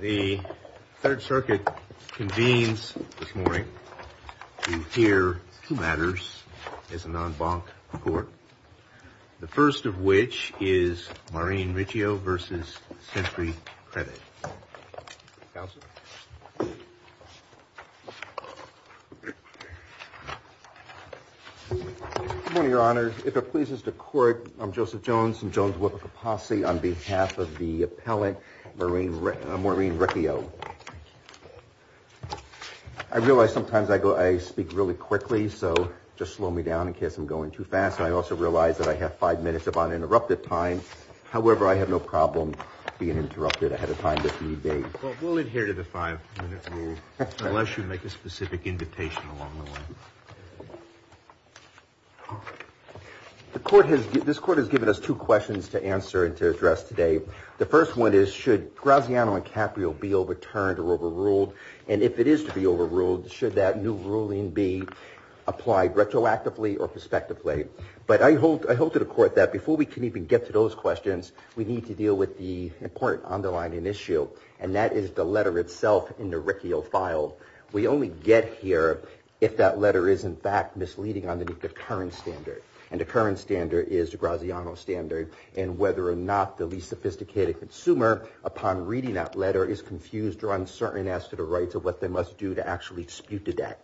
The Third Circuit convenes this morning to hear two matters as a non-bonk court. The first of which is Maureen Riccio v. SentryCredit. Good morning, Your Honor. If it pleases the Court, I'm Joseph Jones from Jones-Wilcox Posse on behalf of the appellant Maureen Riccio. I realize sometimes I speak really quickly, so just slow me down in case I'm going too fast. I also realize that I have five minutes of uninterrupted time. However, I have no problem being interrupted ahead of time if need be. Well, we'll adhere to the five-minute rule, unless you make a specific invitation along the way. This Court has given us two questions to answer and to address today. The first one is, should Graziano and Caprio be overturned or overruled? And if it is to be overruled, should that new ruling be applied retroactively or prospectively? But I hope to the Court that before we can even get to those questions, we need to deal with the important underlying issue, and that is the letter itself in the Riccio file. We only get here if that letter is, in fact, misleading under the current standard, and the current standard is the Graziano standard, and whether or not the least sophisticated consumer, upon reading that letter, is confused or uncertain as to the rights of what they must do to actually dispute the debt.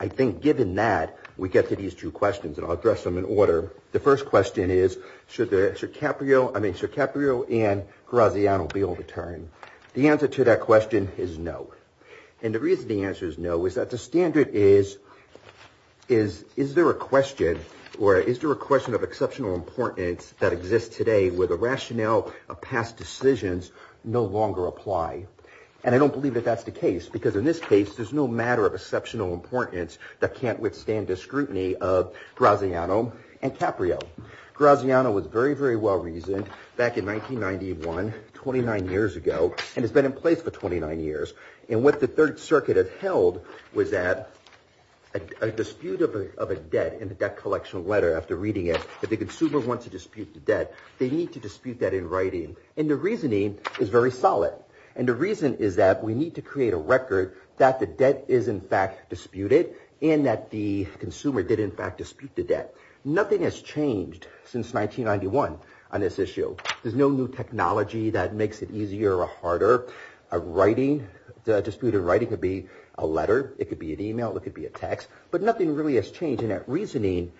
I think given that, we get to these two questions, and I'll address them in order. The first question is, should Caprio and Graziano be overturned? The answer to that question is no, and the reason the answer is no is that the standard is, is there a question or is there a question of exceptional importance that exists today where the rationale of past decisions no longer apply? And I don't believe that that's the case, because in this case there's no matter of exceptional importance that can't withstand the scrutiny of Graziano and Caprio. Graziano was very, very well reasoned back in 1991, 29 years ago, and has been in place for 29 years. And what the Third Circuit has held was that a dispute of a debt in the debt collection letter, after reading it, if the consumer wants to dispute the debt, they need to dispute that in writing. And the reasoning is very solid, and the reason is that we need to create a record that the debt is, in fact, disputed, and that the consumer did, in fact, dispute the debt. Nothing has changed since 1991 on this issue. There's no new technology that makes it easier or harder. A dispute in writing could be a letter, it could be an e-mail, it could be a text, but nothing really has changed. And that reasoning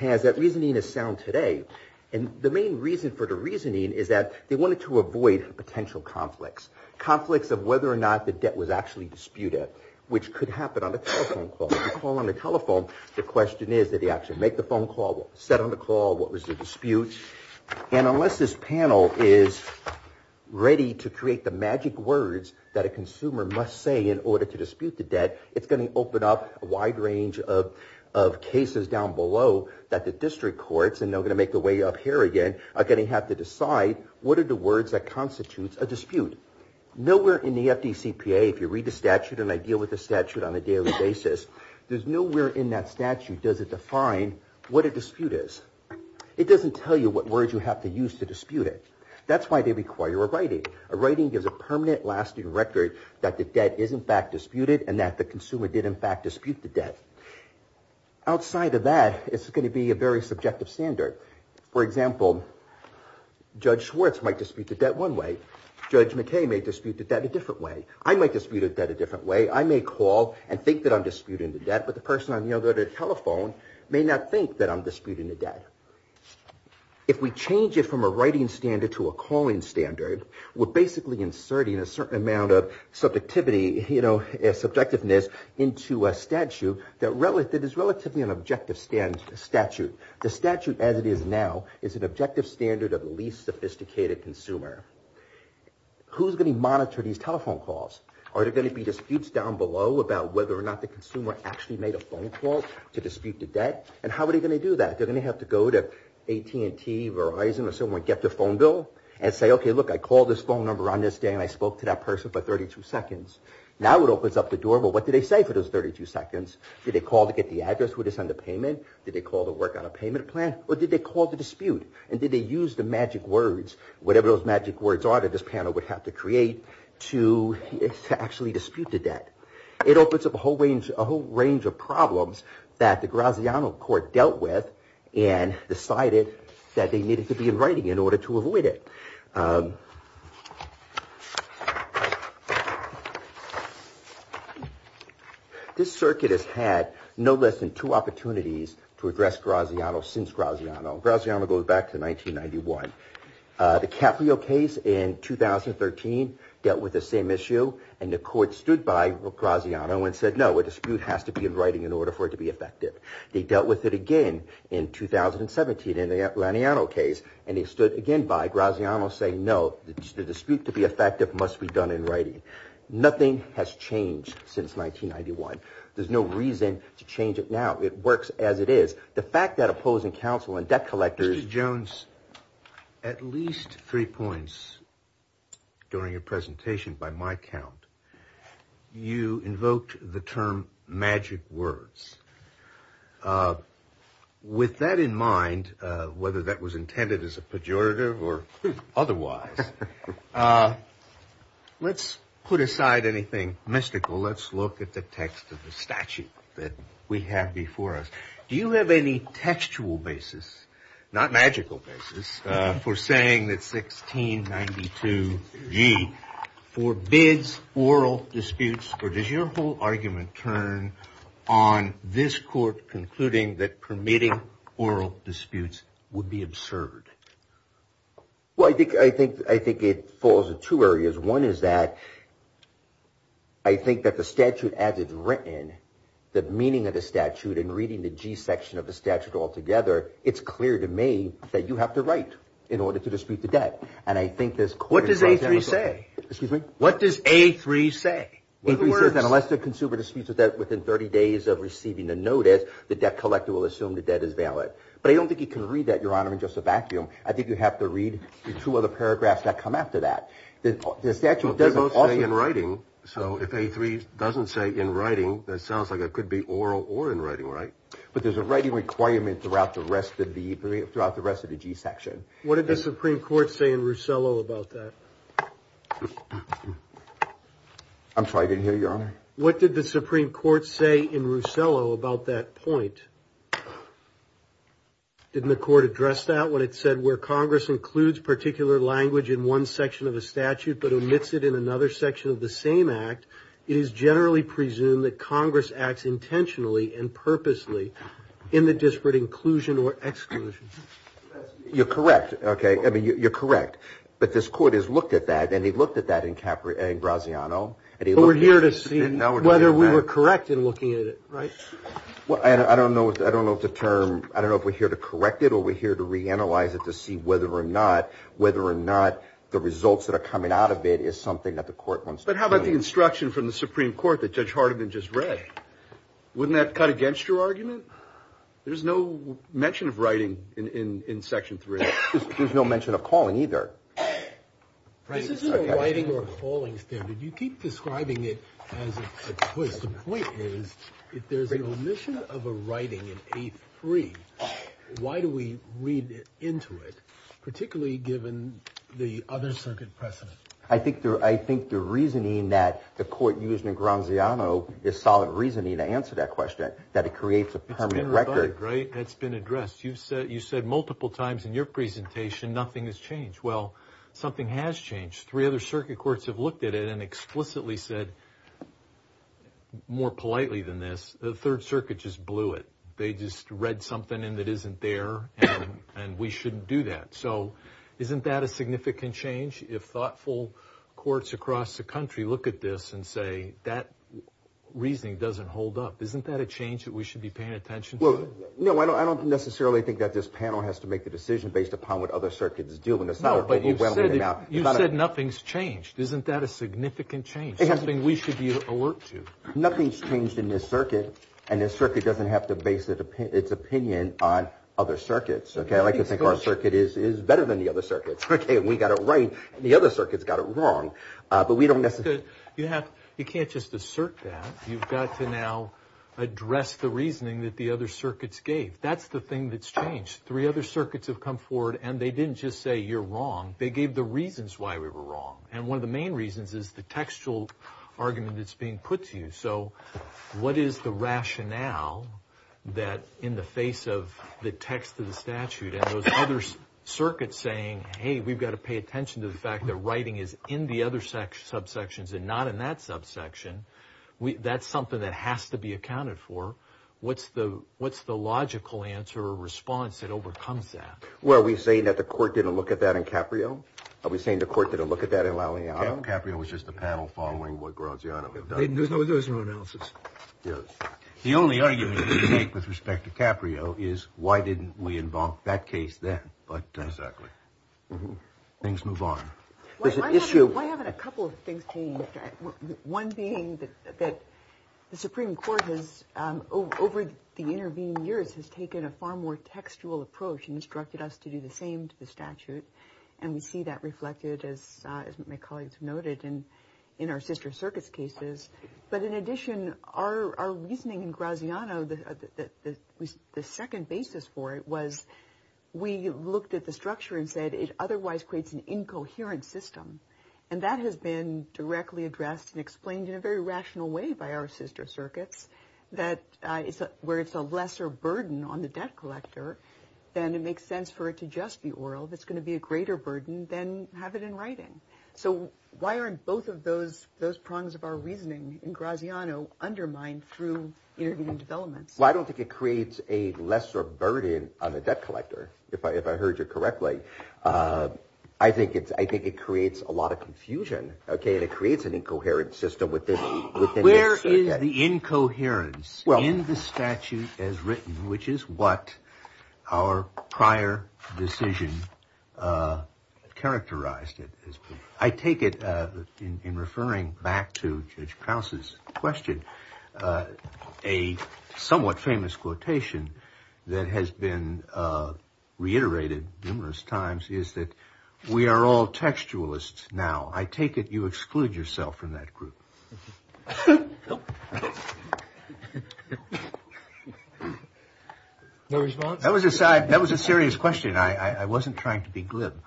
has, that reasoning is sound today. And the main reason for the reasoning is that they wanted to avoid potential conflicts, conflicts of whether or not the debt was actually disputed, which could happen on a telephone call. If you call on a telephone, the question is did they actually make the phone call, set on the call, what was the dispute. And unless this panel is ready to create the magic words that a consumer must say in order to dispute the debt, it's going to open up a wide range of cases down below that the district courts, and they're going to make their way up here again, are going to have to decide what are the words that constitute a dispute. Nowhere in the FDCPA, if you read the statute, and I deal with the statute on a daily basis, there's nowhere in that statute does it define what a dispute is. It doesn't tell you what words you have to use to dispute it. That's why they require a writing. A writing gives a permanent lasting record that the debt is in fact disputed and that the consumer did in fact dispute the debt. Outside of that, it's going to be a very subjective standard. For example, Judge Schwartz might dispute the debt one way. Judge McKay may dispute the debt a different way. I might dispute the debt a different way. I may call and think that I'm disputing the debt, but the person on the other end of the telephone may not think that I'm disputing the debt. If we change it from a writing standard to a calling standard, we're basically inserting a certain amount of subjectivity, subjectiveness into a statute that is relatively an objective statute. The statute as it is now is an objective standard of the least sophisticated consumer. Who's going to monitor these telephone calls? Are the consumer actually made a phone call to dispute the debt? How are they going to do that? They're going to have to go to AT&T, Verizon or someone, get their phone bill and say, okay, look, I called this phone number on this day and I spoke to that person for 32 seconds. Now it opens up the door, but what did they say for those 32 seconds? Did they call to get the address? Would they send a payment? Did they call to work on a payment plan or did they call to dispute? Did they use the magic words, whatever those magic words are that this panel would have to create to actually dispute the debt? It opens up a whole range of problems that the Graziano court dealt with and decided that they needed to be in writing in order to avoid it. This circuit has had no less than two opportunities to address Graziano since Graziano. Graziano goes back to 1991. The Caprio case in 2013 dealt with the same issue and the court stood by Graziano and said, no, a dispute has to be in writing in order for it to be effective. They dealt with it again in 2017 in the Laniano case and they stood again by Graziano saying, no, the dispute to be effective must be done in writing. Nothing has changed since 1991. There's no reason to change it now. It works as it is. The fact that opposing counsel and debt collectors- At least three points during your presentation, by my count, you invoked the term magic words. With that in mind, whether that was intended as a pejorative or otherwise, let's put aside anything mystical. Let's look at the text of the statute that we have before us. Do you have any textual basis, not magical basis, for saying that 1692G forbids oral disputes or does your whole argument turn on this court concluding that permitting oral disputes would be absurd? I think it falls in two areas. One is that I think that the statute, as it's written, the meaning of the statute and reading the G section of the statute altogether, it's clear to me that you have to write in order to dispute the debt. And I think this- What does A3 say? Excuse me? What does A3 say? A3 says that unless the consumer disputes a debt within 30 days of receiving the notice, the debt collector will assume the debt is valid. But I don't think you can read that, Your Honor, in just a vacuum. I think you have to read the two other paragraphs that come after that. The statute doesn't- It doesn't say in writing. So if A3 doesn't say in writing, that sounds like it could be oral or in writing, right? But there's a writing requirement throughout the rest of the G section. What did the Supreme Court say in Rusello about that? I'm sorry, I didn't hear you, Your Honor. What did the Supreme Court say in Rusello about that point? Didn't the court address that when it said where Congress includes particular language in one section of a statute but omits it in another section of the same act, it is generally presumed that Congress acts intentionally and purposely in the disparate inclusion or exclusion. You're correct, okay? I mean, you're correct. But this court has looked at that, and he looked at that in Graziano, and he looked at- But we're here to see whether we were correct in looking at it, right? Well, I don't know if the term- I don't know if we're here to correct it or we're here to reanalyze it to see whether or not the results that are coming out of it is something that the court wants to prove. But how about the instruction from the Supreme Court that Judge Hardiman just read? Wouldn't that cut against your argument? There's no mention of writing in Section 3. There's no mention of calling either. This isn't a writing or a calling standard. You keep describing it as a twist. The point is, if there's an omission of a writing in A3, why do we read into it, particularly given the other circuit precedent? I think the reasoning that the court used in Graziano is solid reasoning to answer that question, that it creates a permanent record. It's been rebutted, right? It's been addressed. You said multiple times in your presentation nothing has changed. Well, something has changed. Three other circuit courts have looked at it and explicitly said, more politely than this, the Third Circuit just blew it. They just read something in that isn't there and we shouldn't do that. So isn't that a significant change? If thoughtful courts across the country look at this and say that reasoning doesn't hold up, isn't that a change that we should be paying attention to? No, I don't necessarily think that this panel has to make the decision based upon what other circuits do. No, but you've said nothing's changed. Isn't that a significant change, something we should be aware of? Nothing's changed in this circuit and this circuit doesn't have to base its opinion on other circuits. I like to think our circuit is better than the other circuits. We got it right and the other circuits got it wrong. You can't just assert that. You've got to now address the reasoning that the other circuits gave. That's the thing that's changed. Three other circuits have come forward and they didn't just say you're wrong. They gave the textual argument that's being put to you. So what is the rationale that in the face of the text of the statute and those other circuits saying, hey, we've got to pay attention to the fact that writing is in the other subsections and not in that subsection, that's something that has to be accounted for. What's the logical answer or response that overcomes that? Well, are we saying that the court didn't look at that in Caprio? Are we saying the fact that Caprio was just a panel following what Graziano had done? There's no analysis. The only argument we can make with respect to Caprio is why didn't we invoke that case then? But things move on. Why haven't a couple of things changed? One being that the Supreme Court has, over the intervening years, has taken a far more textual approach and instructed us to do the same to the statute. And we see that reflected, as my colleagues noted, in our sister circuits cases. But in addition, our reasoning in Graziano, the second basis for it was we looked at the structure and said it otherwise creates an incoherent system. And that has been directly addressed and explained in a very rational way by our sister circuits, where it's a lesser burden on the debt collector than it makes sense for it to just be oral. It's going to be a greater burden than have it in writing. So why aren't both of those prongs of our reasoning in Graziano undermined through intervening developments? Well, I don't think it creates a lesser burden on the debt collector, if I heard you correctly. I think it creates a lot of confusion, and it creates an incoherent system within the statute as written, which is what our prior decision characterized. I take it, in referring back to Judge Krause's question, a somewhat famous quotation that has been reiterated numerous times is that we are all textualists now. I take it you exclude yourself from that group. That was a serious question. I wasn't trying to be glib.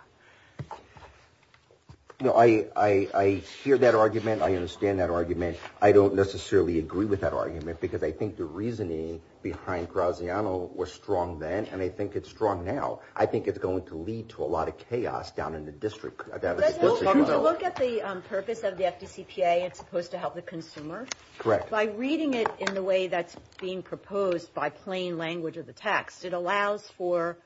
I hear that argument. I understand that argument. I don't necessarily agree with that argument because I think the reasoning behind Graziano was strong then, and I think it's strong now. I think it's going to lead to a lot of chaos down in the district. But if you look at the purpose of the FDCPA, it's supposed to help the consumer. Correct. By reading it in the way that's being proposed by plain language of the text, it allows for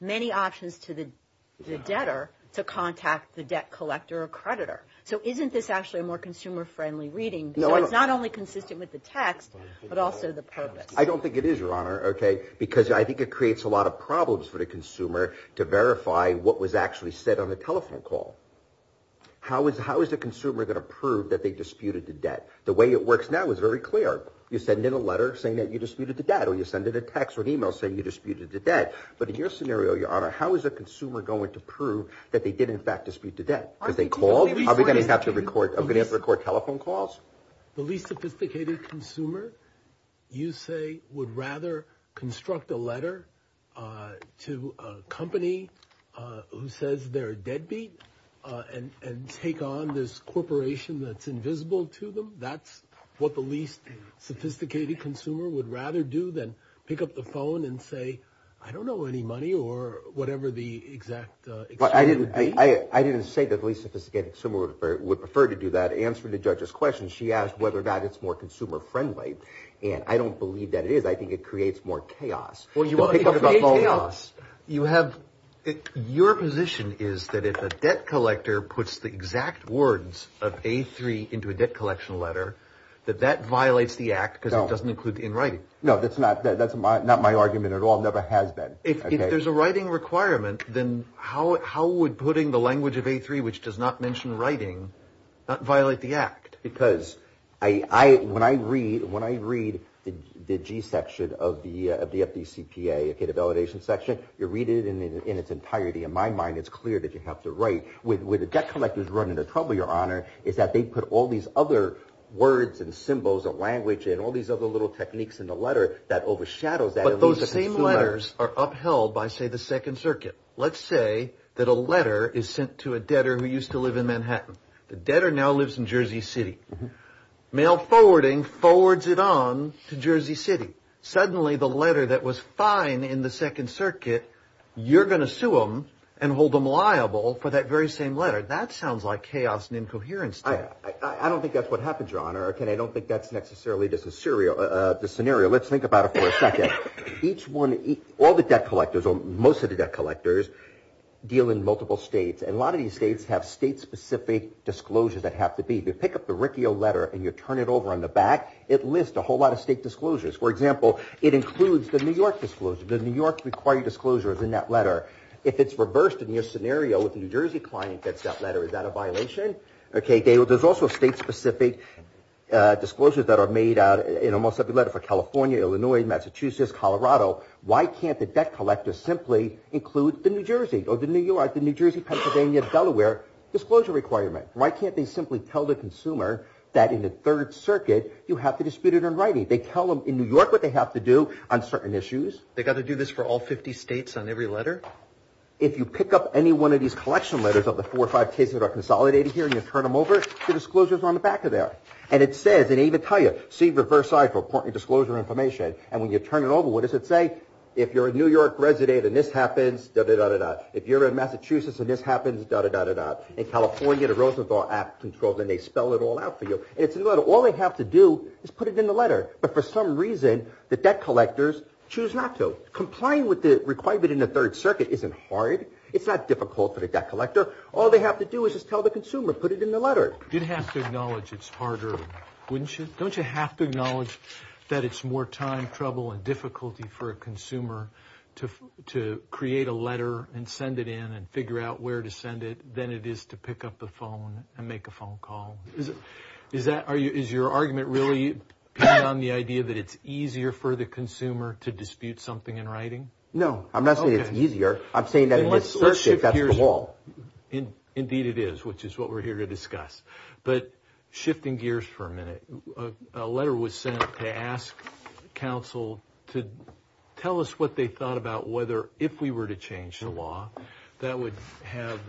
many options to the debtor to contact the debt collector or creditor. So isn't this actually a more consumer-friendly reading? No. So it's not only consistent with the text, but also the purpose. I don't think it is, Your Honor, because I think it creates a lot of problems for the How is the consumer going to prove that they disputed the debt? The way it works now is very clear. You send in a letter saying that you disputed the debt or you send in a text or an email saying you disputed the debt. But in your scenario, Your Honor, how is a consumer going to prove that they did in fact dispute the debt? Are we going to have to record telephone calls? The least sophisticated consumer, you say, would rather construct a letter to a company who says they're deadbeat and take on this corporation that's invisible to them? That's what the least sophisticated consumer would rather do than pick up the phone and say, I don't know any money or whatever the exact exchange would be? I didn't say that the least sophisticated consumer would prefer to do that. Answering the judge's question, she asked whether or not it's more consumer-friendly. And I don't believe that it is. I think it creates more chaos. Your position is that if a debt collector puts the exact words of A3 into a debt collection letter, that that violates the act because it doesn't include the in writing. No, that's not my argument at all. It never has been. If there's a writing requirement, then how would putting the language of A3, which does not mention writing, not violate the act? Because when I read the G section of the FDCPA, the validation section, you read it in its entirety. In my mind, it's clear that you have to write. Where the debt collectors run into trouble, Your Honor, is that they put all these other words and symbols of language and all these other little techniques in the letter that overshadows that. But those same letters are upheld by, say, the Second Circuit. Let's say that a letter is sent to a debtor who used to live in Manhattan. The debtor now lives in Jersey City. Mail forwarding forwards it on to Jersey City. Suddenly, the letter that was fine in the Second Circuit, you're going to sue them and hold them liable for that very same letter. That sounds like chaos and incoherence to me. I don't think that's what happened, Your Honor. I don't think that's necessarily the scenario. Let's think about it for a second. All the debt collectors, or most of the debt collectors, deal in multiple states. And a lot of these states have state-specific disclosures that have to be. If you pick up the Riccio letter and you turn it over on the back, it lists a whole lot of state disclosures. For example, it includes the New York disclosure. The New York required disclosure is in that letter. If it's reversed in your scenario with a New Jersey client that's got that letter, is that a violation? There's also state-specific disclosures that are made in almost every letter for California, Illinois, Massachusetts, Colorado. Why can't the debt collector simply include the New Jersey or the New York, the New Jersey, Pennsylvania, Delaware disclosure requirement? Why can't they simply tell the consumer that in the Third Circuit, you have to dispute it in writing? They tell them in New York what they have to do on certain issues. They've got to do this for all 50 states on every letter? If you pick up any one of these collection letters of the four or five cases that are consolidated here and you turn them over, the disclosures are on the back of there. And it says, and it even tells you, see reverse side for important disclosure information. And when you turn it over, what does it say? If you're a New York resident and this happens, da-da-da-da-da. If you're in Massachusetts and this happens, da-da-da-da-da. In California, the Rosenthal Act controls and they spell it all out for you. And it's in the letter. All they have to do is put it in the letter. But for some reason, the debt collectors choose not to. Complying with the requirement in the Third Circuit isn't hard. It's not difficult for the debt collector. All they have to do is just tell the consumer, put it in the letter. You'd have to acknowledge it's harder, wouldn't you? Don't you have to acknowledge that it's more time, trouble and difficulty for a consumer to create a letter and send it in and figure out where to send it than it is to pick up the phone and make a phone call? Is your argument really on the idea that it's easier for the consumer to dispute something in writing? No. I'm not saying it's easier. I'm saying that in the Third Circuit, that's the whole. Indeed it is, which is what we're here to discuss. But shifting gears for a minute. A letter was sent to ask counsel to tell us what they thought about whether, if we were to change the law, that would have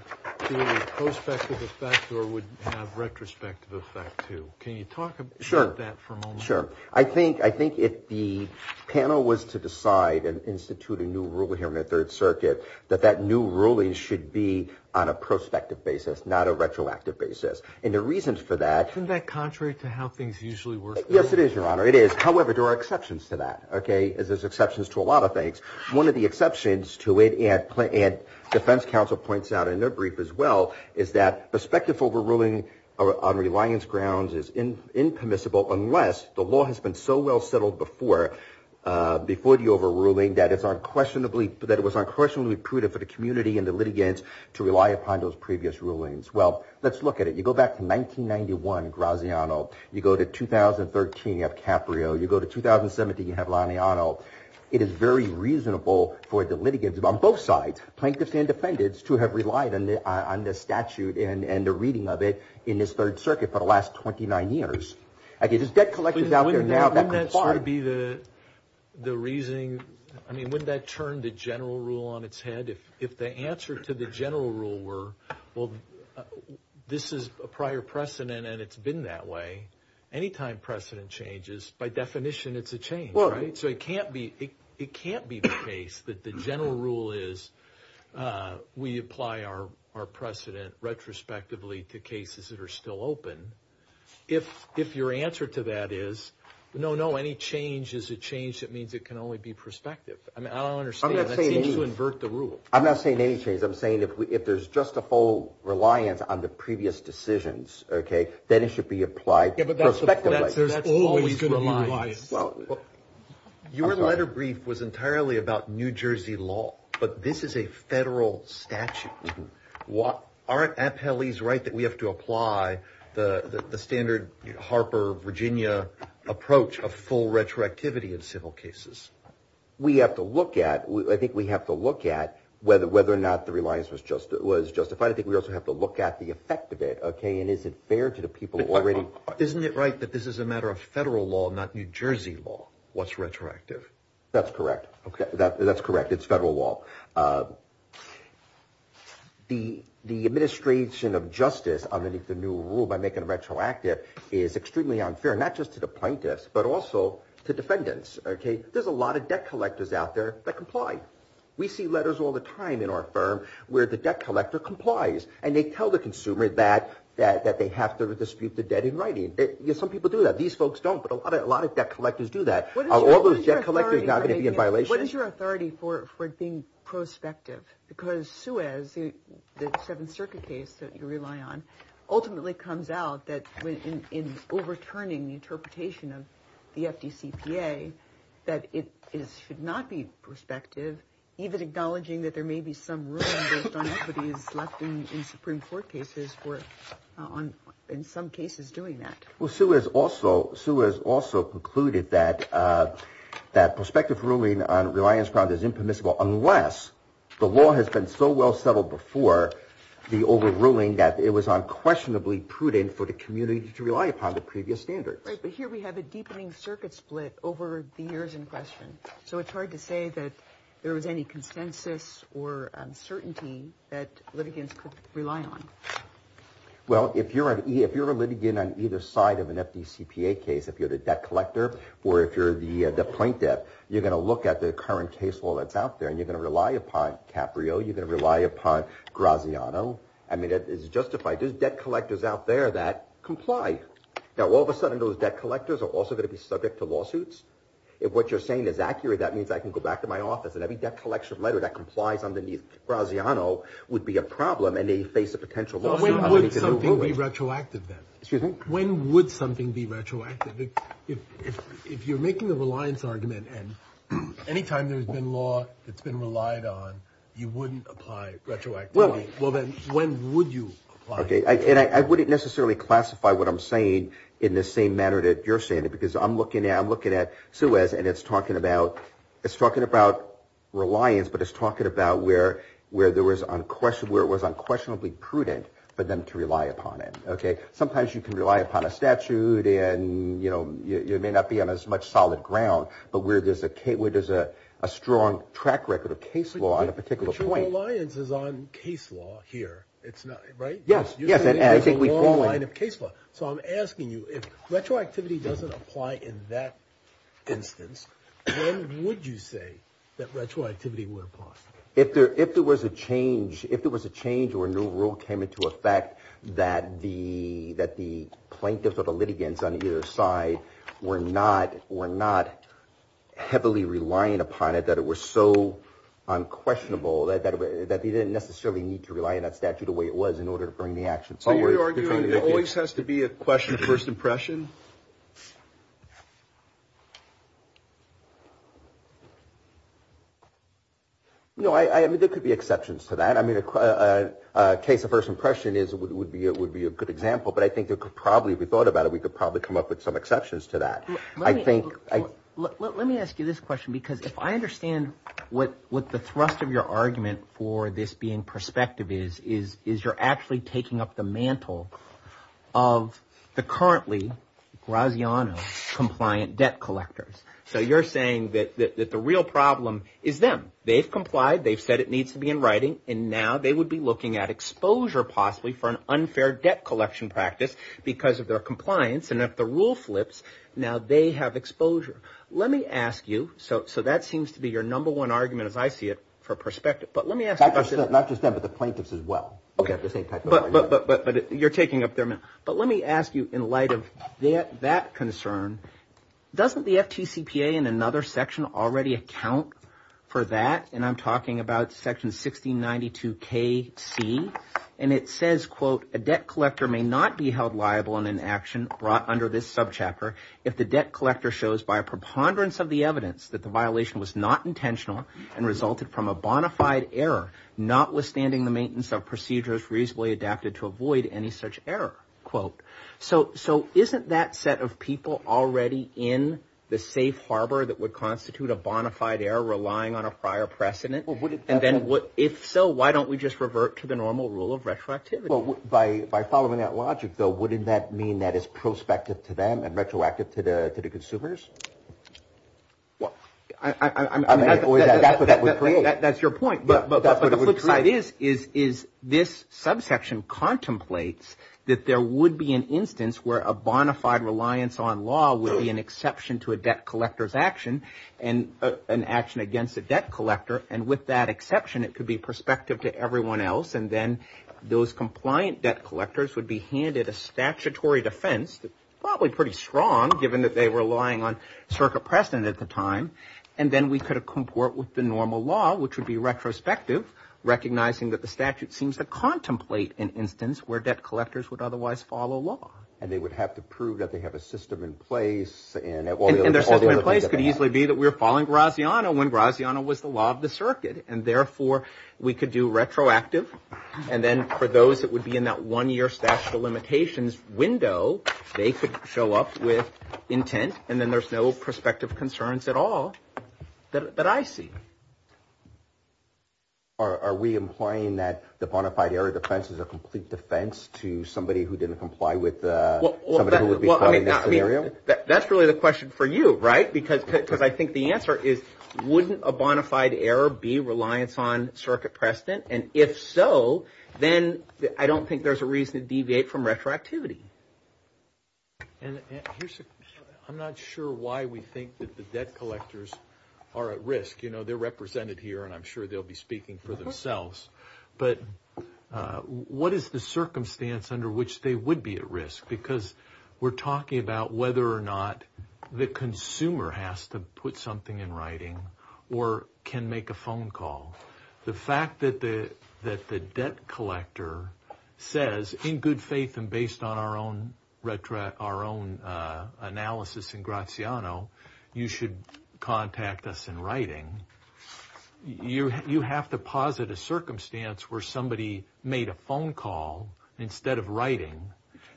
either a prospective effect or would have retrospective effect, too. Can you talk about that for a moment? Sure. I think if the panel was to decide and institute a new rule here in the Third Circuit, that that new ruling should be on a prospective basis, not a retroactive basis. Isn't that contrary to how things usually work? Yes, it is, Your Honor. It is. However, there are exceptions to that. There's exceptions to a lot of things. One of the exceptions to it, and defense counsel points out in their brief as well, is that prospective overruling on reliance grounds is impermissible unless the law has been so well settled before the overruling that it was unquestionably prudent for the community and the litigants to rely upon those previous rulings. Well, let's look at it. You go back to 1991, Graziano. You go to 2013, you have Caprio. You go to 2017, you have Laniano. It is very reasonable for the litigants on both sides, plaintiffs and defendants, to have relied on this statute and the reading of it in this Third Circuit for the last 29 years. I mean, wouldn't that turn the general rule on its head? If the answer to the general rule were, well, this is a prior precedent and it's been that way, any time precedent changes, by definition it's a change, right? So it can't be the case that the general rule is we apply our precedent retrospectively to cases that are still open. If your answer to that is, no, no, any change is a change that means it can only be prospective. I mean, I don't understand. That seems to invert the rule. I'm not saying any change. I'm saying if there's just a full reliance on the previous decisions, okay, then it should be applied prospectively. Yeah, but that's always going to be reliance. Well, your letter brief was entirely about New Jersey law, but this is a federal statute. Aren't appellees right that we have to apply the standard Harper, Virginia approach of full retroactivity in civil cases? We have to look at, I think we have to look at whether or not the reliance was justified. I think we also have to look at the effect of it, okay, and is it fair to the people who already Isn't it right that this is a matter of federal law, not New Jersey law, what's retroactive? That's correct. Okay, that's correct. It's federal law. The administration of justice underneath the new rule by making it retroactive is extremely unfair, not just to the plaintiffs, but also to defendants. Okay, there's a lot of debt collectors out there that comply. We see letters all the time in our firm where the debt collector complies, and they tell the consumer that they have to dispute the debt in writing. Some people do that. These folks don't, but a lot of debt collectors do that. Are all those debt collectors not going to be in violation? What is your authority for it being prospective? Because Suez, the Seventh Circuit case that you rely on, ultimately comes out that in overturning the interpretation of the FDCPA, that it should not be prospective, even acknowledging that there may be some room based on equities left in Supreme Court cases for in some cases doing that. Well, Suez also concluded that prospective ruling on reliance is impermissible unless the law has been so well settled before the overruling that it was unquestionably prudent for the community to rely upon the previous standards. Right, but here we have a deepening circuit split over the years in question. So it's hard to say that there was any consensus or uncertainty that litigants could rely on. Well, if you're a litigant on either side of an FDCPA case, if you're the debt collector or if you're the plaintiff, you're going to look at the current case law that's out there and you're going to rely upon Caprio, you're going to rely upon Graziano. I mean, it's justified. There's debt collectors out there that comply. Now, all of a sudden, those debt collectors are also going to be subject to lawsuits. If what you're saying is accurate, that means I can go back to my office and every debt collection letter that complies underneath Graziano would be a problem and they face a potential lawsuit. When would something be retroactive then? Excuse me? When would something be retroactive? If you're making the reliance argument and any time there's been law that's been relied on, you wouldn't apply retroactivity. Well, then when would you apply it? Okay, and I wouldn't necessarily classify what I'm saying in the same manner that you're saying it because I'm looking at Suez and it's talking about reliance, but it's talking about where it was unquestionably prudent for them to rely upon it. Sometimes you can rely upon a statute and it may not be on as much solid ground, but where there's a strong track record of case law on a particular point. But your reliance is on case law here, right? Yes. You're saying there's a long line of case law. So I'm asking you, if retroactivity doesn't apply in that instance, when would you say that retroactivity would apply? If there was a change or a new rule came into effect that the plaintiffs or the litigants on either side were not heavily relying upon it, that it was so unquestionable, that they didn't necessarily need to rely on that statute the way it was in order to bring the action forward. It always has to be a question of first impression. No, I mean, there could be exceptions to that. I mean, a case of first impression is it would be it would be a good example. But I think there could probably be thought about it. We could probably come up with some exceptions to that. I think let me ask you this question, because if I understand what what the thrust of your argument for this being perspective is, is you're actually taking up the mantle of the currently Graziano compliant debt collectors. So you're saying that the real problem is them. They've complied. They've said it needs to be in writing. And now they would be looking at exposure, possibly for an unfair debt collection practice because of their compliance. And if the rule flips now, they have exposure. Let me ask you. So that seems to be your number one argument, as I see it, for perspective. But let me ask not just that, but the plaintiffs as well. OK. But you're taking up there. But let me ask you, in light of that concern, doesn't the FTCPA in another section already account for that? And I'm talking about Section 1692 K C. And it says, quote, a debt collector may not be held liable in an action brought under this subchapter. If the debt collector shows by a preponderance of the evidence that the violation was not intentional and resulted from a bona fide error, notwithstanding the maintenance of procedures reasonably adapted to avoid any such error. Quote. So isn't that set of people already in the safe harbor that would constitute a bona fide error relying on a prior precedent? And then if so, why don't we just revert to the normal rule of retroactivity? By following that logic, though, wouldn't that mean that is prospective to them and retroactive to the consumers? Well, I mean, that's your point. But the flip side is, is this subsection contemplates that there would be an instance where a bona fide reliance on law would be an exception to a debt collector's action and an action against a debt collector. And with that exception, it could be prospective to everyone else. And then those compliant debt collectors would be handed a statutory defense, probably pretty strong, given that they were relying on circuit precedent at the time. And then we could comport with the normal law, which would be retrospective, recognizing that the statute seems to contemplate an instance where debt collectors would otherwise follow law. And they would have to prove that they have a system in place. And their system in place could easily be that we're following Graziano when Graziano was the law of the circuit. And therefore, we could do retroactive. And then for those that would be in that one-year statute of limitations window, they could show up with intent. And then there's no prospective concerns at all that I see. Are we implying that the bona fide error defense is a complete defense to somebody who didn't comply with somebody who would be complying with the scenario? That's really the question for you, right? Because I think the answer is wouldn't a bona fide error be reliance on circuit precedent? And if so, then I don't think there's a reason to deviate from retroactivity. And I'm not sure why we think that the debt collectors are at risk. You know, they're represented here, and I'm sure they'll be speaking for themselves. But what is the circumstance under which they would be at risk? Because we're talking about whether or not the consumer has to put something in writing or can make a phone call. The fact that the debt collector says, in good faith and based on our own analysis in Graziano, you should contact us in writing. You have to posit a circumstance where somebody made a phone call instead of writing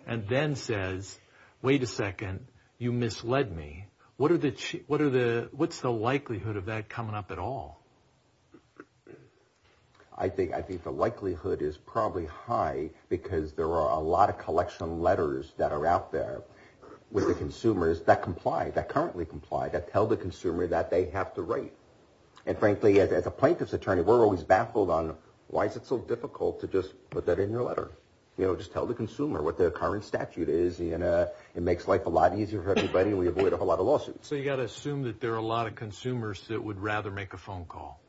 and then says, wait a second, you misled me. What's the likelihood of that coming up at all? I think the likelihood is probably high because there are a lot of collection letters that are out there with the consumers that comply, that currently comply, that tell the consumer that they have to write. And frankly, as a plaintiff's attorney, we're always baffled on why is it so difficult to just put that in your letter. You know, just tell the consumer what the current statute is. It makes life a lot easier for everybody, and we avoid a whole lot of lawsuits. So you've got to assume that there are a lot of consumers that would rather make a phone call.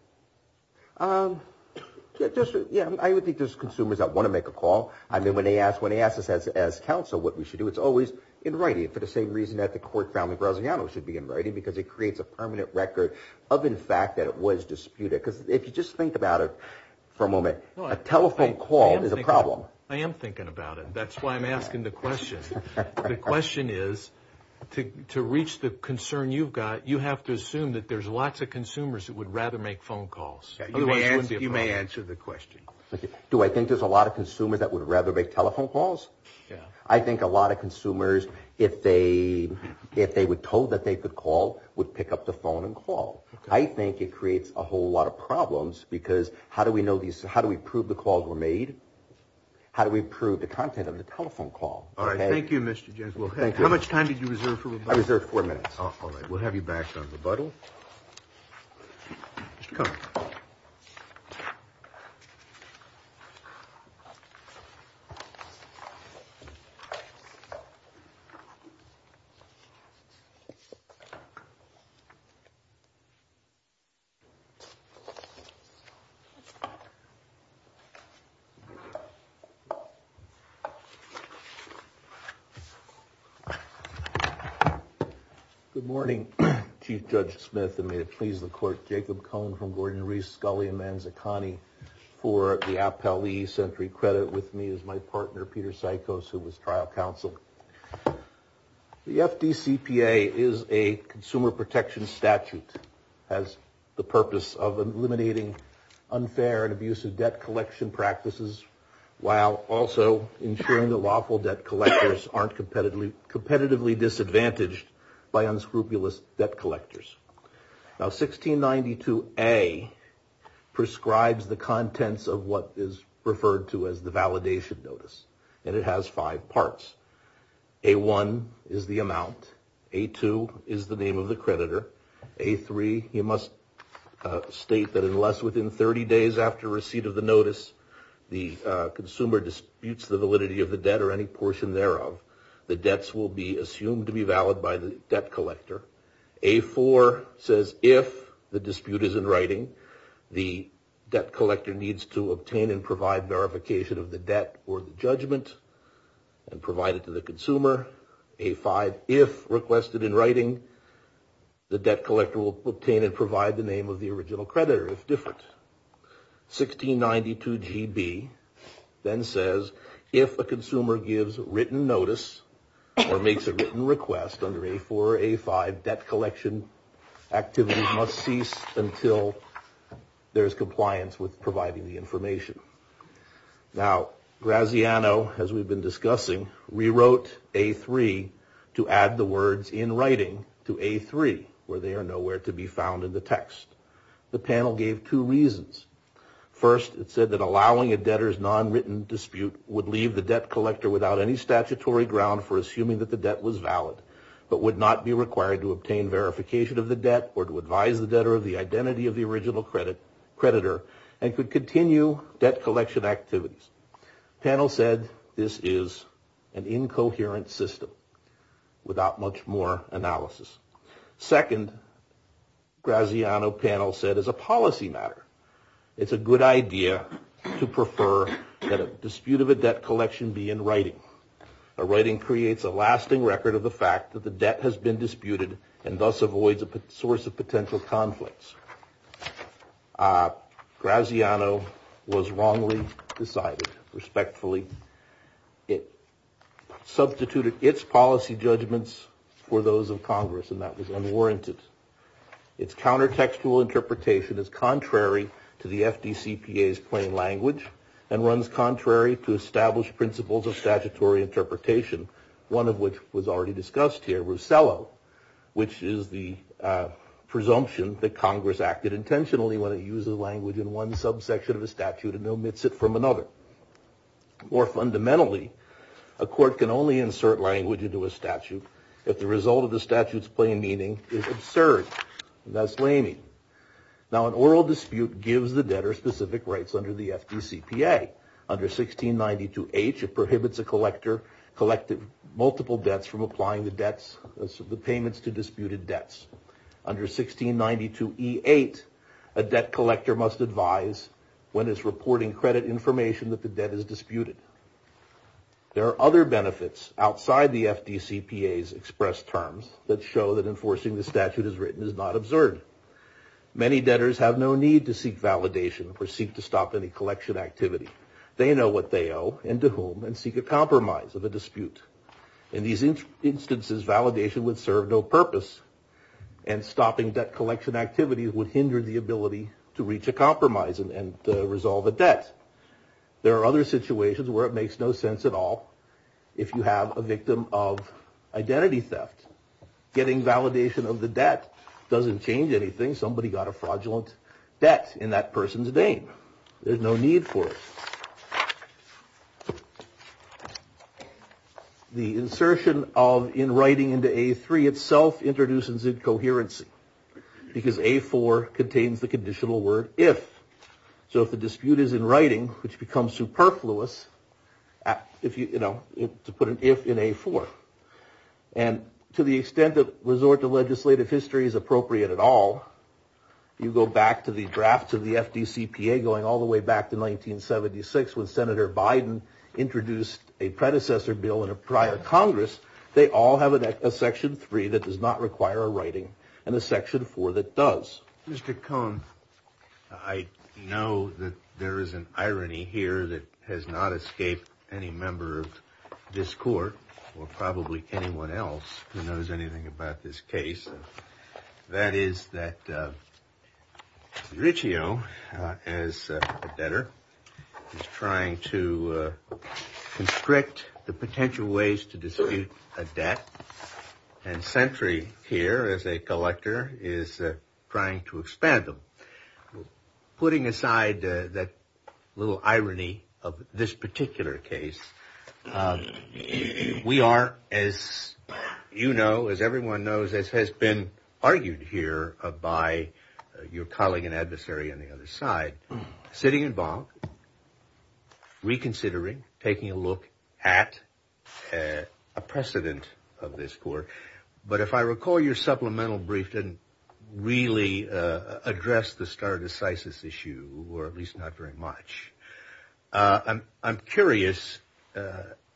Yeah, I would think there's consumers that want to make a call. I mean, when they ask us as counsel what we should do, it's always in writing. For the same reason that the court found that Rosiano should be in writing because it creates a permanent record of, in fact, that it was disputed. Because if you just think about it for a moment, a telephone call is a problem. I am thinking about it. That's why I'm asking the question. The question is, to reach the concern you've got, you have to assume that there's lots of consumers that would rather make phone calls. You may answer the question. Do I think there's a lot of consumers that would rather make telephone calls? Yeah. I think a lot of consumers, if they were told that they could call, would pick up the phone and call. I think it creates a whole lot of problems because how do we prove the calls were made? How do we prove the content of the telephone call? All right. Thank you, Mr. Jenkins. How much time did you reserve for rebuttal? I reserved four minutes. All right. We'll have you back on rebuttal. Mr. Cutler. Good morning, Chief Judge Smith, and may it please the court. Jacob Cohn from Gordon-Reese, Scully, and Manzacani. For the Appellee Sentry Credit with me is my partner, Peter Sykos, who was trial counsel. The FDCPA is a consumer protection statute. It has the purpose of eliminating unfair and abusive debt collection practices, while also ensuring that lawful debt collectors aren't competitively disadvantaged by unscrupulous debt collectors. Now, 1692A prescribes the contents of what is referred to as the validation notice, and it has five parts. A1 is the amount. A2 is the name of the creditor. A3, you must state that unless within 30 days after receipt of the notice, the consumer disputes the validity of the debt or any portion thereof, the debts will be assumed to be valid by the debt collector. A4 says if the dispute is in writing, the debt collector needs to obtain and provide verification of the debt or the judgment and provide it to the consumer. A5, if requested in writing, the debt collector will obtain and provide the name of the original creditor, if different. 1692GB then says if a consumer gives written notice or makes a written request under A4 or A5, debt collection activities must cease until there is compliance with providing the information. Now, Graziano, as we've been discussing, rewrote A3 to add the words in writing to A3, where they are nowhere to be found in the text. The panel gave two reasons. First, it said that allowing a debtor's nonwritten dispute would leave the debt collector without any statutory ground for assuming that the debt was valid, but would not be required to obtain verification of the debt or to advise the debtor of the identity of the original creditor and could continue debt collection activities. The panel said this is an incoherent system without much more analysis. Second, Graziano panel said as a policy matter, it's a good idea to prefer that a dispute of a debt collection be in writing. A writing creates a lasting record of the fact that the debt has been disputed and thus avoids a source of potential conflicts. Graziano was wrongly decided, respectfully. It substituted its policy judgments for those of Congress, and that was unwarranted. Its countertextual interpretation is contrary to the FDCPA's plain language and runs contrary to established principles of statutory interpretation, one of which was already discussed here, Russello, which is the presumption that Congress acted intentionally when it uses language in one subsection of a statute and omits it from another. More fundamentally, a court can only insert language into a statute if the result of the statute's plain meaning is absurd, thus laming. Now, an oral dispute gives the debtor specific rights under the FDCPA. Under 1692H, it prohibits a collector collecting multiple debts from applying the payments to disputed debts. Under 1692E8, a debt collector must advise when it's reporting credit information that the debt is disputed. There are other benefits outside the FDCPA's expressed terms that show that enforcing the statute as written is not absurd. Many debtors have no need to seek validation or seek to stop any collection activity. They know what they owe and to whom and seek a compromise of a dispute. In these instances, validation would serve no purpose and stopping debt collection activity would hinder the ability to reach a compromise and resolve a debt. There are other situations where it makes no sense at all if you have a victim of identity theft. Getting validation of the debt doesn't change anything. Somebody got a fraudulent debt in that person's name. There's no need for it. The insertion of in writing into A3 itself introduces incoherency because A4 contains the conditional word if. So if the dispute is in writing, which becomes superfluous, to put an if in A4. And to the extent that resort to legislative history is appropriate at all, you go back to the draft of the FDCPA going all the way back to 1976 when Senator Biden introduced a predecessor bill in a prior Congress, they all have a section three that does not require a writing and a section four that does. Mr. Cohen, I know that there is an irony here that has not escaped any member of this court or probably anyone else who knows anything about this case. That is that Riccio, as a debtor, is trying to constrict the potential ways to dispute a debt. And Sentry here, as a collector, is trying to expand them. Putting aside that little irony of this particular case, we are, as you know, as everyone knows, as has been argued here by your colleague and adversary on the other side, sitting in bond, reconsidering, taking a look at a precedent of this court. But if I recall, your supplemental brief didn't really address the stare decisis issue, or at least not very much. I'm curious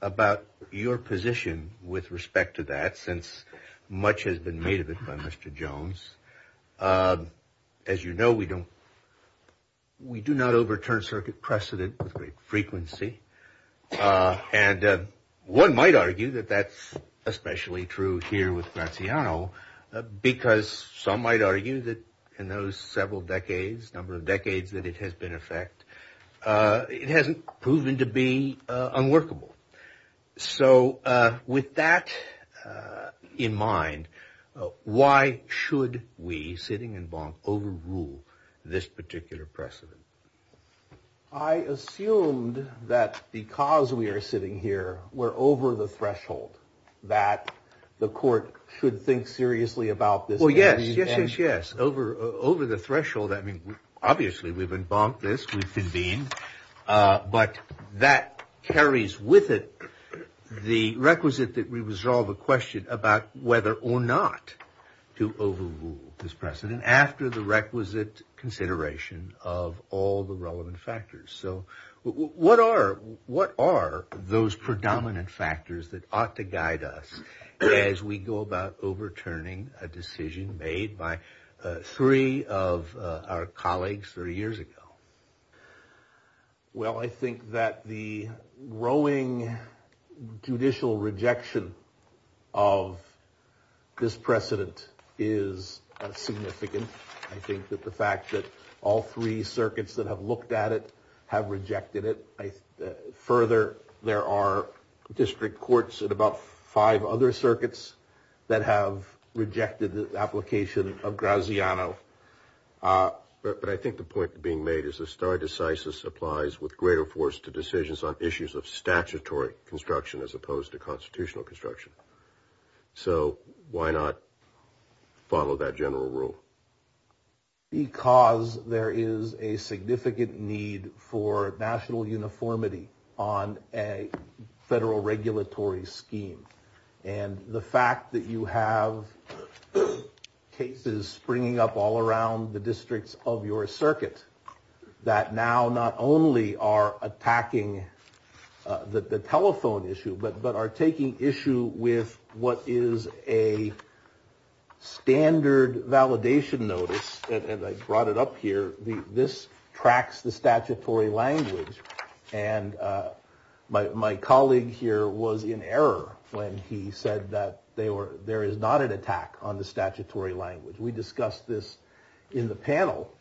about your position with respect to that, since much has been made of it by Mr. Jones. As you know, we do not overturn circuit precedent with great frequency. And one might argue that that's especially true here with Graziano, because some might argue that in those several decades, number of decades that it has been in effect, it hasn't proven to be unworkable. So with that in mind, why should we, sitting in bond, overrule this particular precedent? I assumed that because we are sitting here, we're over the threshold that the court should think seriously about this. Oh, yes, yes, yes, yes. Over the threshold. I mean, obviously we've been bonked this, we've convened, but that carries with it the requisite that we resolve a question about whether or not to overrule this precedent after the requisite consideration of all the relevant factors. So what are those predominant factors that ought to guide us as we go about overturning a decision made by three of our colleagues 30 years ago? Well, I think that the growing judicial rejection of this precedent is significant. I think that the fact that all three circuits that have looked at it have rejected it. Further, there are district courts and about five other circuits that have rejected the application of Graziano. But I think the point being made is the stare decisis applies with greater force to decisions on issues of statutory construction as opposed to constitutional construction. So why not follow that general rule? Because there is a significant need for national uniformity on a federal regulatory scheme. And the fact that you have cases springing up all around the districts of your circuit that now not only are attacking the telephone issue, but are taking issue with what is a standard validation notice. And I brought it up here. This tracks the statutory language. And my colleague here was in error when he said that there is not an attack on the statutory language. We discussed this in the panel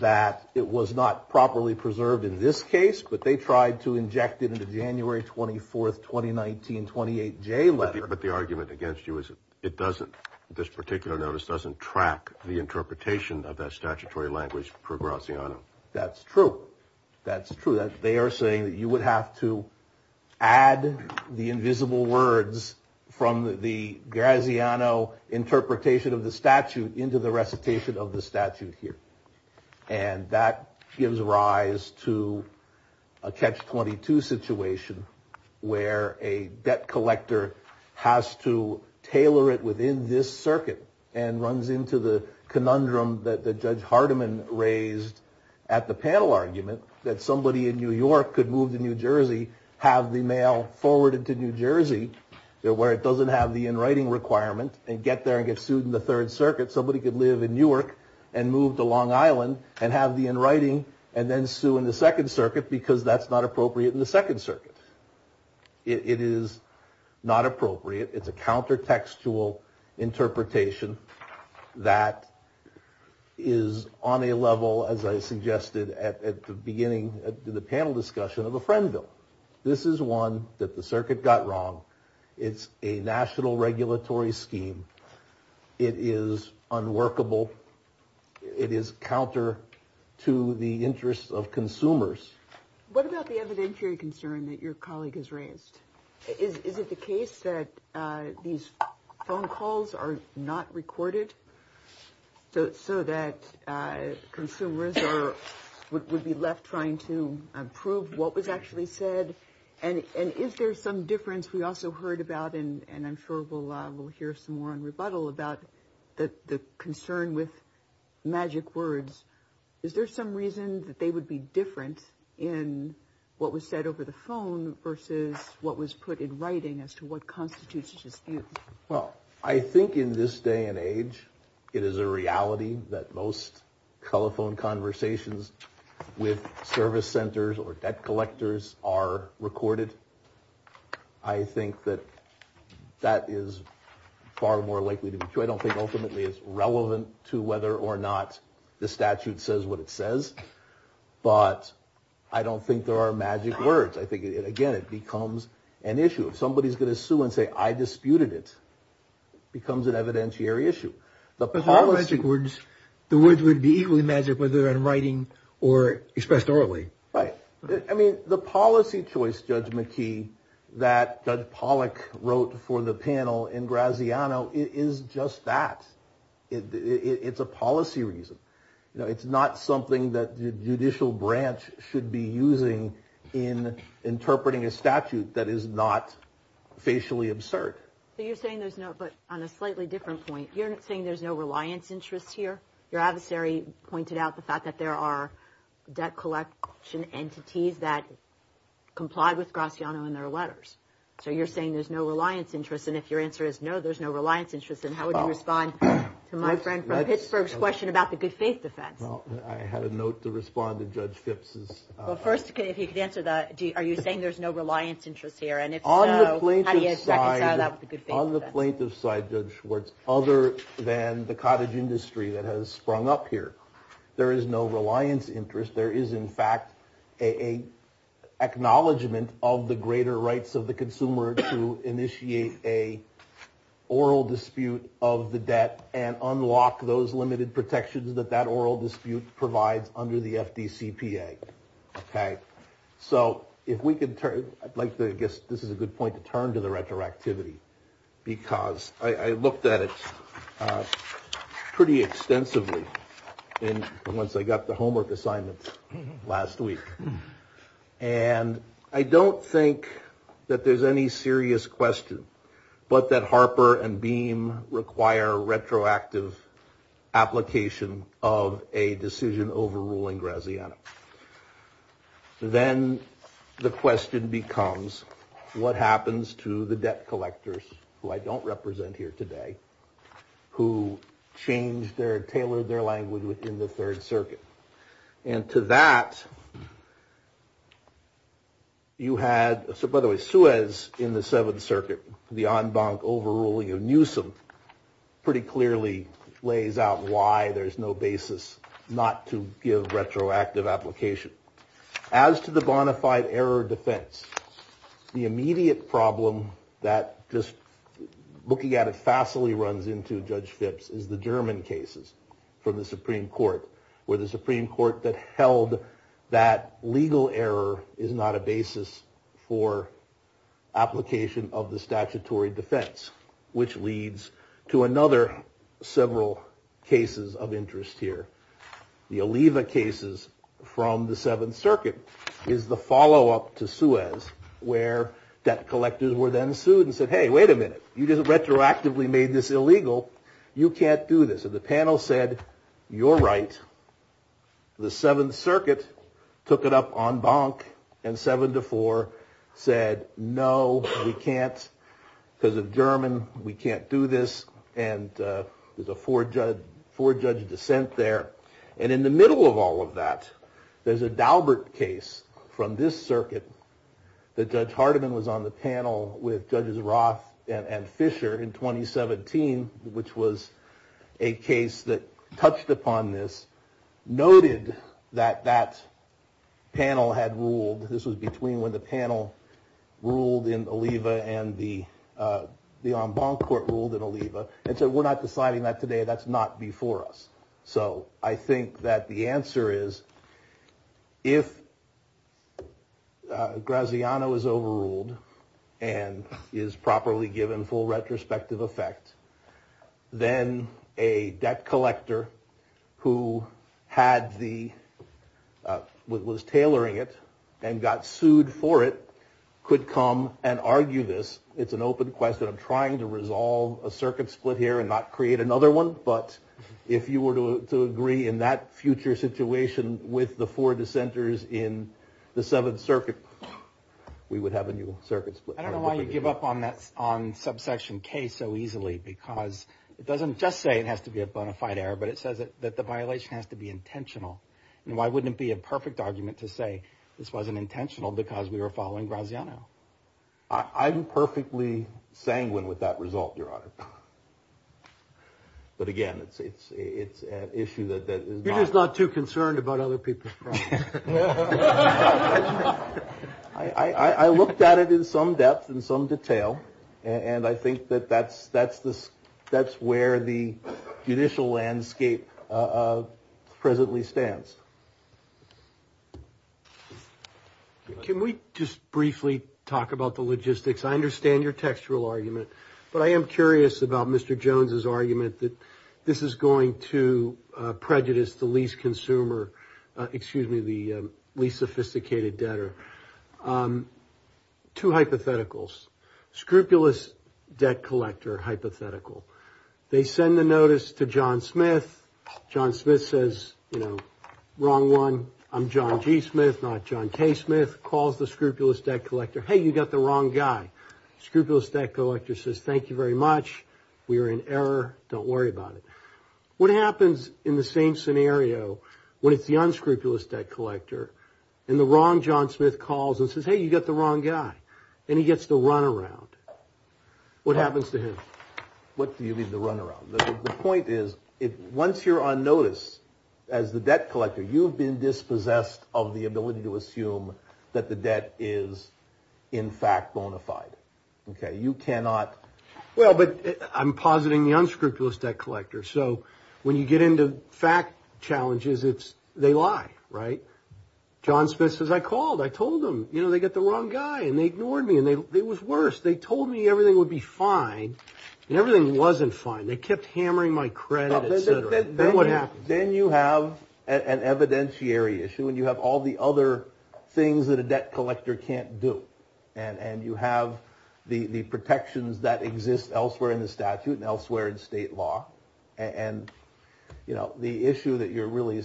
that it was not properly preserved in this case, but they tried to inject it into January 24th, 2019, 28 J letter. But the argument against you is it doesn't. This particular notice doesn't track the interpretation of that statutory language for Graziano. That's true. That's true. They are saying that you would have to add the invisible words from the Graziano interpretation of the statute into the recitation of the statute here. And that gives rise to a catch 22 situation where a debt collector has to tailor it within this circuit and runs into the conundrum that Judge Hardiman raised at the panel argument that somebody in New York could move to New Jersey, have the mail forwarded to New Jersey where it doesn't have the in writing requirement and get there and get sued in the Third Circuit. Somebody could live in Newark and move to Long Island and have the in writing and then sue in the Second Circuit because that's not appropriate in the Second Circuit. It is not appropriate. It's a counter textual interpretation that is on a level, as I suggested at the beginning of the panel discussion, of a friend bill. This is one that the circuit got wrong. It's a national regulatory scheme. It is unworkable. It is counter to the interests of consumers. What about the evidentiary concern that your colleague has raised? Is it the case that these phone calls are not recorded? So that consumers would be left trying to prove what was actually said? And is there some difference we also heard about? And I'm sure we'll hear some more on rebuttal about the concern with magic words. Is there some reason that they would be different in what was said over the phone versus what was put in writing as to what constitutes a dispute? Well, I think in this day and age, it is a reality that most telephone conversations with service centers or debt collectors are recorded. I think that that is far more likely to be true. I don't think ultimately it's relevant to whether or not the statute says what it says. But I don't think there are magic words. I think, again, it becomes an issue. If somebody is going to sue and say, I disputed it, it becomes an evidentiary issue. But the words would be equally magic whether in writing or expressed orally. Right. I mean, the policy choice, Judge McKee, that Judge Pollack wrote for the panel in Graziano is just that. It's a policy reason. It's not something that the judicial branch should be using in interpreting a statute that is not facially absurd. So you're saying there's no. But on a slightly different point, you're saying there's no reliance interests here. Your adversary pointed out the fact that there are debt collection entities that complied with Graziano in their letters. So you're saying there's no reliance interests. And if your answer is no, there's no reliance interests. And how would you respond to my friend from Pittsburgh's question about the good faith defense? Well, I had a note to respond to Judge Phipps. Well, first, if you could answer that. Are you saying there's no reliance interests here? And if so, how do you reconcile that with the good faith defense? On the plaintiff's side, Judge Schwartz, other than the cottage industry that has sprung up here, there is no reliance interest. There is, in fact, a acknowledgement of the greater rights of the consumer to initiate a oral dispute of the debt and unlock those limited protections that that oral dispute provides under the FDCPA. OK, so if we could turn I'd like to guess this is a good point to turn to the retroactivity, because I looked at it pretty extensively. And once I got the homework assignments last week, and I don't think that there's any serious question, but that Harper and Beam require retroactive application of a decision overruling Graziano. Then the question becomes what happens to the debt collectors who I don't represent here today, who changed their tailored their language within the Third Circuit. And to that. You had so by the way, Suez in the Seventh Circuit, the en banc overruling of Newsome pretty clearly lays out why there is no basis not to give retroactive application. As to the bona fide error defense, the immediate problem that just looking at it fastly runs into Judge Phipps is the German cases from the Supreme Court where the Supreme Court that held that legal error is not a basis for application of the statutory defense, which leads to another several cases of interest here. The Aliva cases from the Seventh Circuit is the follow up to Suez where debt collectors were then sued and said, hey, wait a minute, you just retroactively made this illegal. You can't do this. And the panel said, you're right. The Seventh Circuit took it up en banc and seven to four said, no, we can't. Because of German, we can't do this. And there's a four judge dissent there. And in the middle of all of that, there's a Daubert case from this circuit. That Judge Hardiman was on the panel with Judges Roth and Fisher in 2017, which was a case that touched upon this, noted that that panel had ruled. This was between when the panel ruled in Aliva and the en banc court ruled in Aliva. And so we're not deciding that today. That's not before us. So I think that the answer is if Graziano is overruled and is properly given full retrospective effect, then a debt collector who was tailoring it and got sued for it could come and argue this. It's an open question. I'm trying to resolve a circuit split here and not create another one. But if you were to agree in that future situation with the four dissenters in the Seventh Circuit, we would have a new circuit split. I don't know why you give up on that on subsection case so easily, because it doesn't just say it has to be a bona fide error, but it says that the violation has to be intentional. And why wouldn't it be a perfect argument to say this wasn't intentional because we were following Graziano? I'm perfectly sanguine with that result, Your Honor. But again, it's it's it's an issue that is not too concerned about other people. I looked at it in some depth and some detail, and I think that that's that's this. That's where the judicial landscape presently stands. Can we just briefly talk about the logistics? I understand your textual argument, but I am curious about Mr. Jones's argument that this is going to prejudice the least consumer, excuse me, the least sophisticated debtor. Two hypotheticals. Scrupulous debt collector hypothetical. They send the notice to John Smith. John Smith says, you know, wrong one. I'm John G. Smith, not John K. Smith. Calls the scrupulous debt collector. Hey, you got the wrong guy. Scrupulous debt collector says, thank you very much. We are in error. Don't worry about it. What happens in the same scenario when it's the unscrupulous debt collector and the wrong? John Smith calls and says, hey, you got the wrong guy and he gets to run around. What happens to him? What do you mean the run around? The point is, once you're on notice as the debt collector, you've been dispossessed of the ability to assume that the debt is, in fact, bona fide. OK, you cannot. Well, but I'm positing the unscrupulous debt collector. So when you get into fact challenges, it's they lie. Right. John Smith, as I called, I told them, you know, they got the wrong guy and they ignored me and it was worse. They told me everything would be fine and everything wasn't fine. They kept hammering my credit. Then what happened? Then you have an evidentiary issue and you have all the other things that a debt collector can't do. And you have the protections that exist elsewhere in the statute and elsewhere in state law. And, you know, the issue that you're really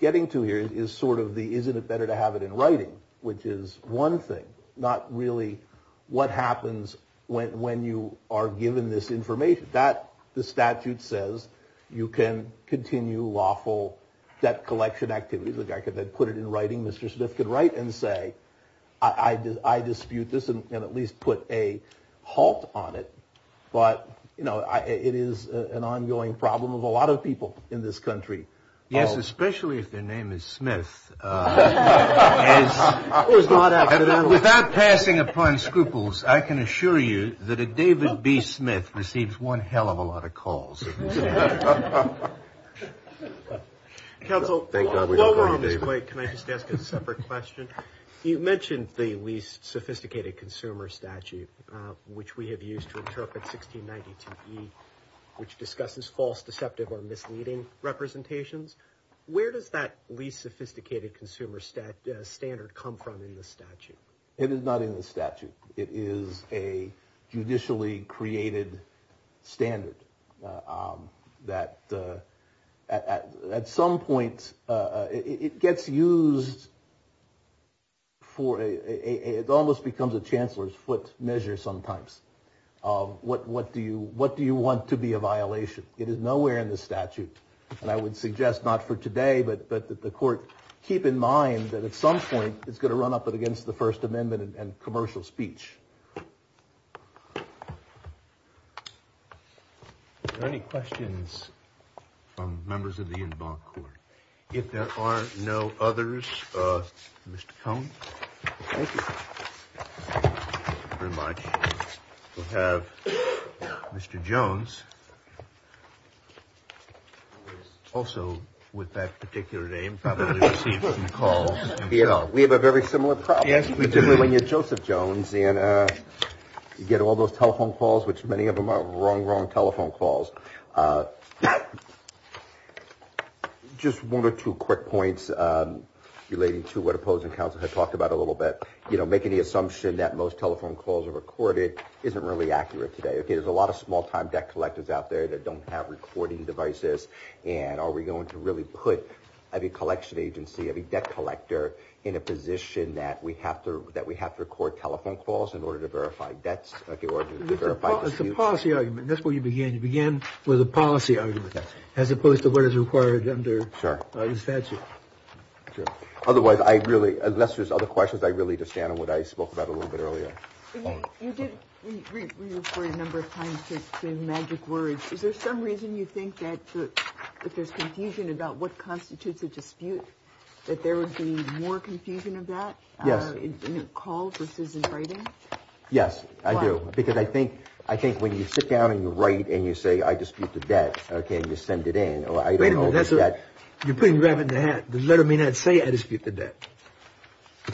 getting to here is sort of the isn't it better to have it in writing, which is one thing, not really what happens when you are given this information that the statute says you can continue lawful debt collection activities. The guy could then put it in writing. Mr. Smith could write and say, I did. I dispute this and at least put a halt on it. But, you know, it is an ongoing problem of a lot of people in this country. Yes, especially if their name is Smith. Without passing upon scruples, I can assure you that a David B. Smith receives one hell of a lot of calls. Counsel, while we're on this plate, can I just ask a separate question? You mentioned the least sophisticated consumer statute, which we have used to interpret 1692 E, which discusses false, deceptive or misleading representations. Where does that least sophisticated consumer stat standard come from in the statute? It is not in the statute. It is a judicially created standard. That at some point it gets used. For it almost becomes a chancellor's foot measure sometimes. What what do you what do you want to be a violation? It is nowhere in the statute. And I would suggest not for today, but that the court keep in mind that at some point it's going to run up against the First Amendment and commercial speech. Any questions from members of the court? If there are no others. Mr. Cone, thank you very much. We have Mr. Jones. Also with that particular name, probably received some calls. We have a very similar problem, particularly when you're Joseph Jones. And you get all those telephone calls, which many of them are wrong, wrong telephone calls. Just one or two quick points relating to what opposing counsel had talked about a little bit. You know, making the assumption that most telephone calls are recorded isn't really accurate today. There's a lot of small time debt collectors out there that don't have recording devices. And are we going to really put every collection agency, every debt collector in a position that we have to that we have to record telephone calls in order to verify debts? It's a policy argument. That's where you began. You began with a policy argument as opposed to what is required under the statute. Otherwise, I really, unless there's other questions, I really just stand on what I spoke about a little bit earlier. You did refer a number of times to magic words. Is there some reason you think that if there's confusion about what constitutes a dispute, that there would be more confusion of that? Yes. In a call versus in writing? Yes, I do. Because I think I think when you sit down and you write and you say, I dispute the debt, can you send it in? I don't know that you're putting rabbit in the hat. The letter may not say I dispute the debt.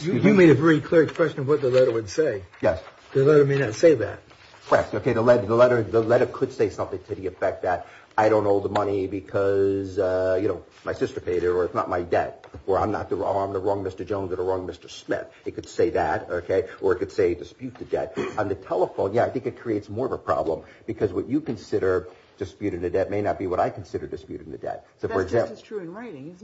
You made a very clear question of what the letter would say. Yes. The letter may not say that. OK, the letter, the letter. The letter could say something to the effect that I don't owe the money because, you know, my sister paid or it's not my debt or I'm not the wrong. The wrong Mr. Jones or the wrong Mr. Smith. It could say that. OK, or it could say dispute the debt on the telephone. Yeah, I think it creates more of a problem because what you consider disputed that may not be what I consider disputed in the debt. So for example, it's true in writing.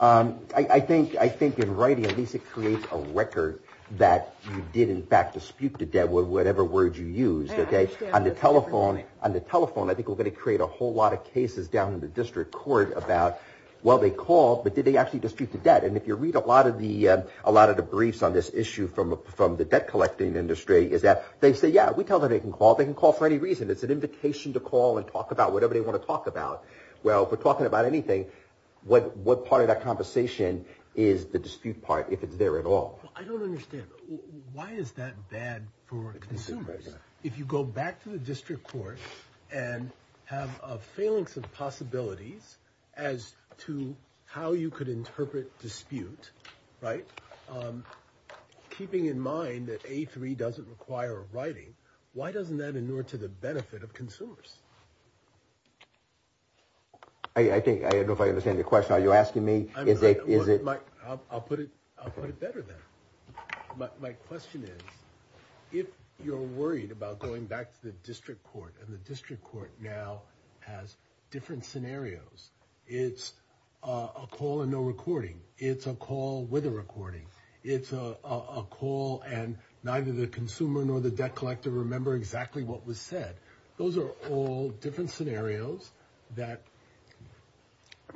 I think I think in writing, at least it creates a record that you did, in fact, dispute the debt with whatever word you use. OK, on the telephone, on the telephone. I think we're going to create a whole lot of cases down in the district court about, well, they call. But did they actually dispute the debt? And if you read a lot of the a lot of the briefs on this issue from from the debt collecting industry, is that they say, yeah, we tell them they can call. They can call for any reason. It's an invitation to call and talk about whatever they want to talk about. Well, we're talking about anything. What what part of that conversation is the dispute part if it's there at all? I don't understand. Why is that bad for consumers? If you go back to the district court and have a phalanx of possibilities as to how you could interpret dispute. Right. Keeping in mind that a three doesn't require a writing. Why doesn't that in order to the benefit of consumers? I think I understand the question. Are you asking me? Is it is it? I'll put it. I'll put it better than my question is. If you're worried about going back to the district court and the district court now has different scenarios, it's a call and no recording. It's a call with a recording. It's a call. And neither the consumer nor the debt collector remember exactly what was said. Those are all different scenarios that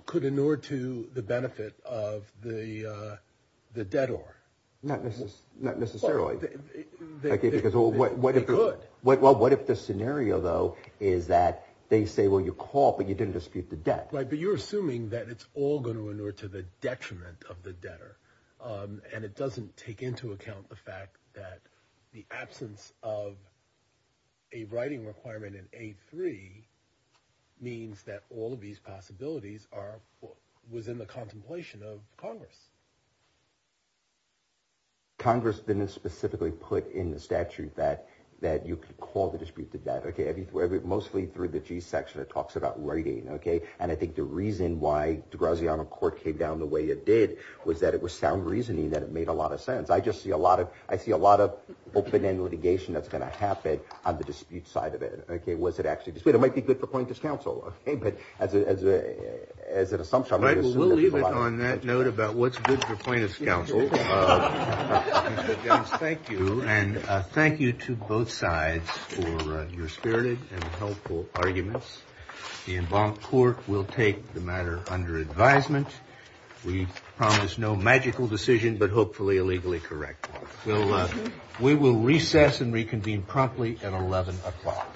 could in order to the benefit of the the debtor. Not this is not necessarily. Because what would it look like? Well, what if the scenario, though, is that they say, well, you call, but you didn't dispute the debt. But you're assuming that it's all going to in order to the detriment of the debtor. And it doesn't take into account the fact that the absence of. A writing requirement in a three means that all of these possibilities are within the contemplation of Congress. Congress didn't specifically put in the statute that that you could call the dispute to that. Mostly through the G section, it talks about writing. OK. And I think the reason why the Graziano court came down the way it did was that it was sound reasoning that it made a lot of sense. I just see a lot of I see a lot of open end litigation that's going to happen on the dispute side of it. OK, was it actually this way? It might be good for plaintiff's counsel. But as a as an assumption, I believe on that note about what's good for plaintiff's counsel. Thank you. And thank you to both sides for your spirited and helpful arguments. The involved court will take the matter under advisement. We promise no magical decision, but hopefully illegally correct. Well, we will recess and reconvene promptly at eleven o'clock. Thank you.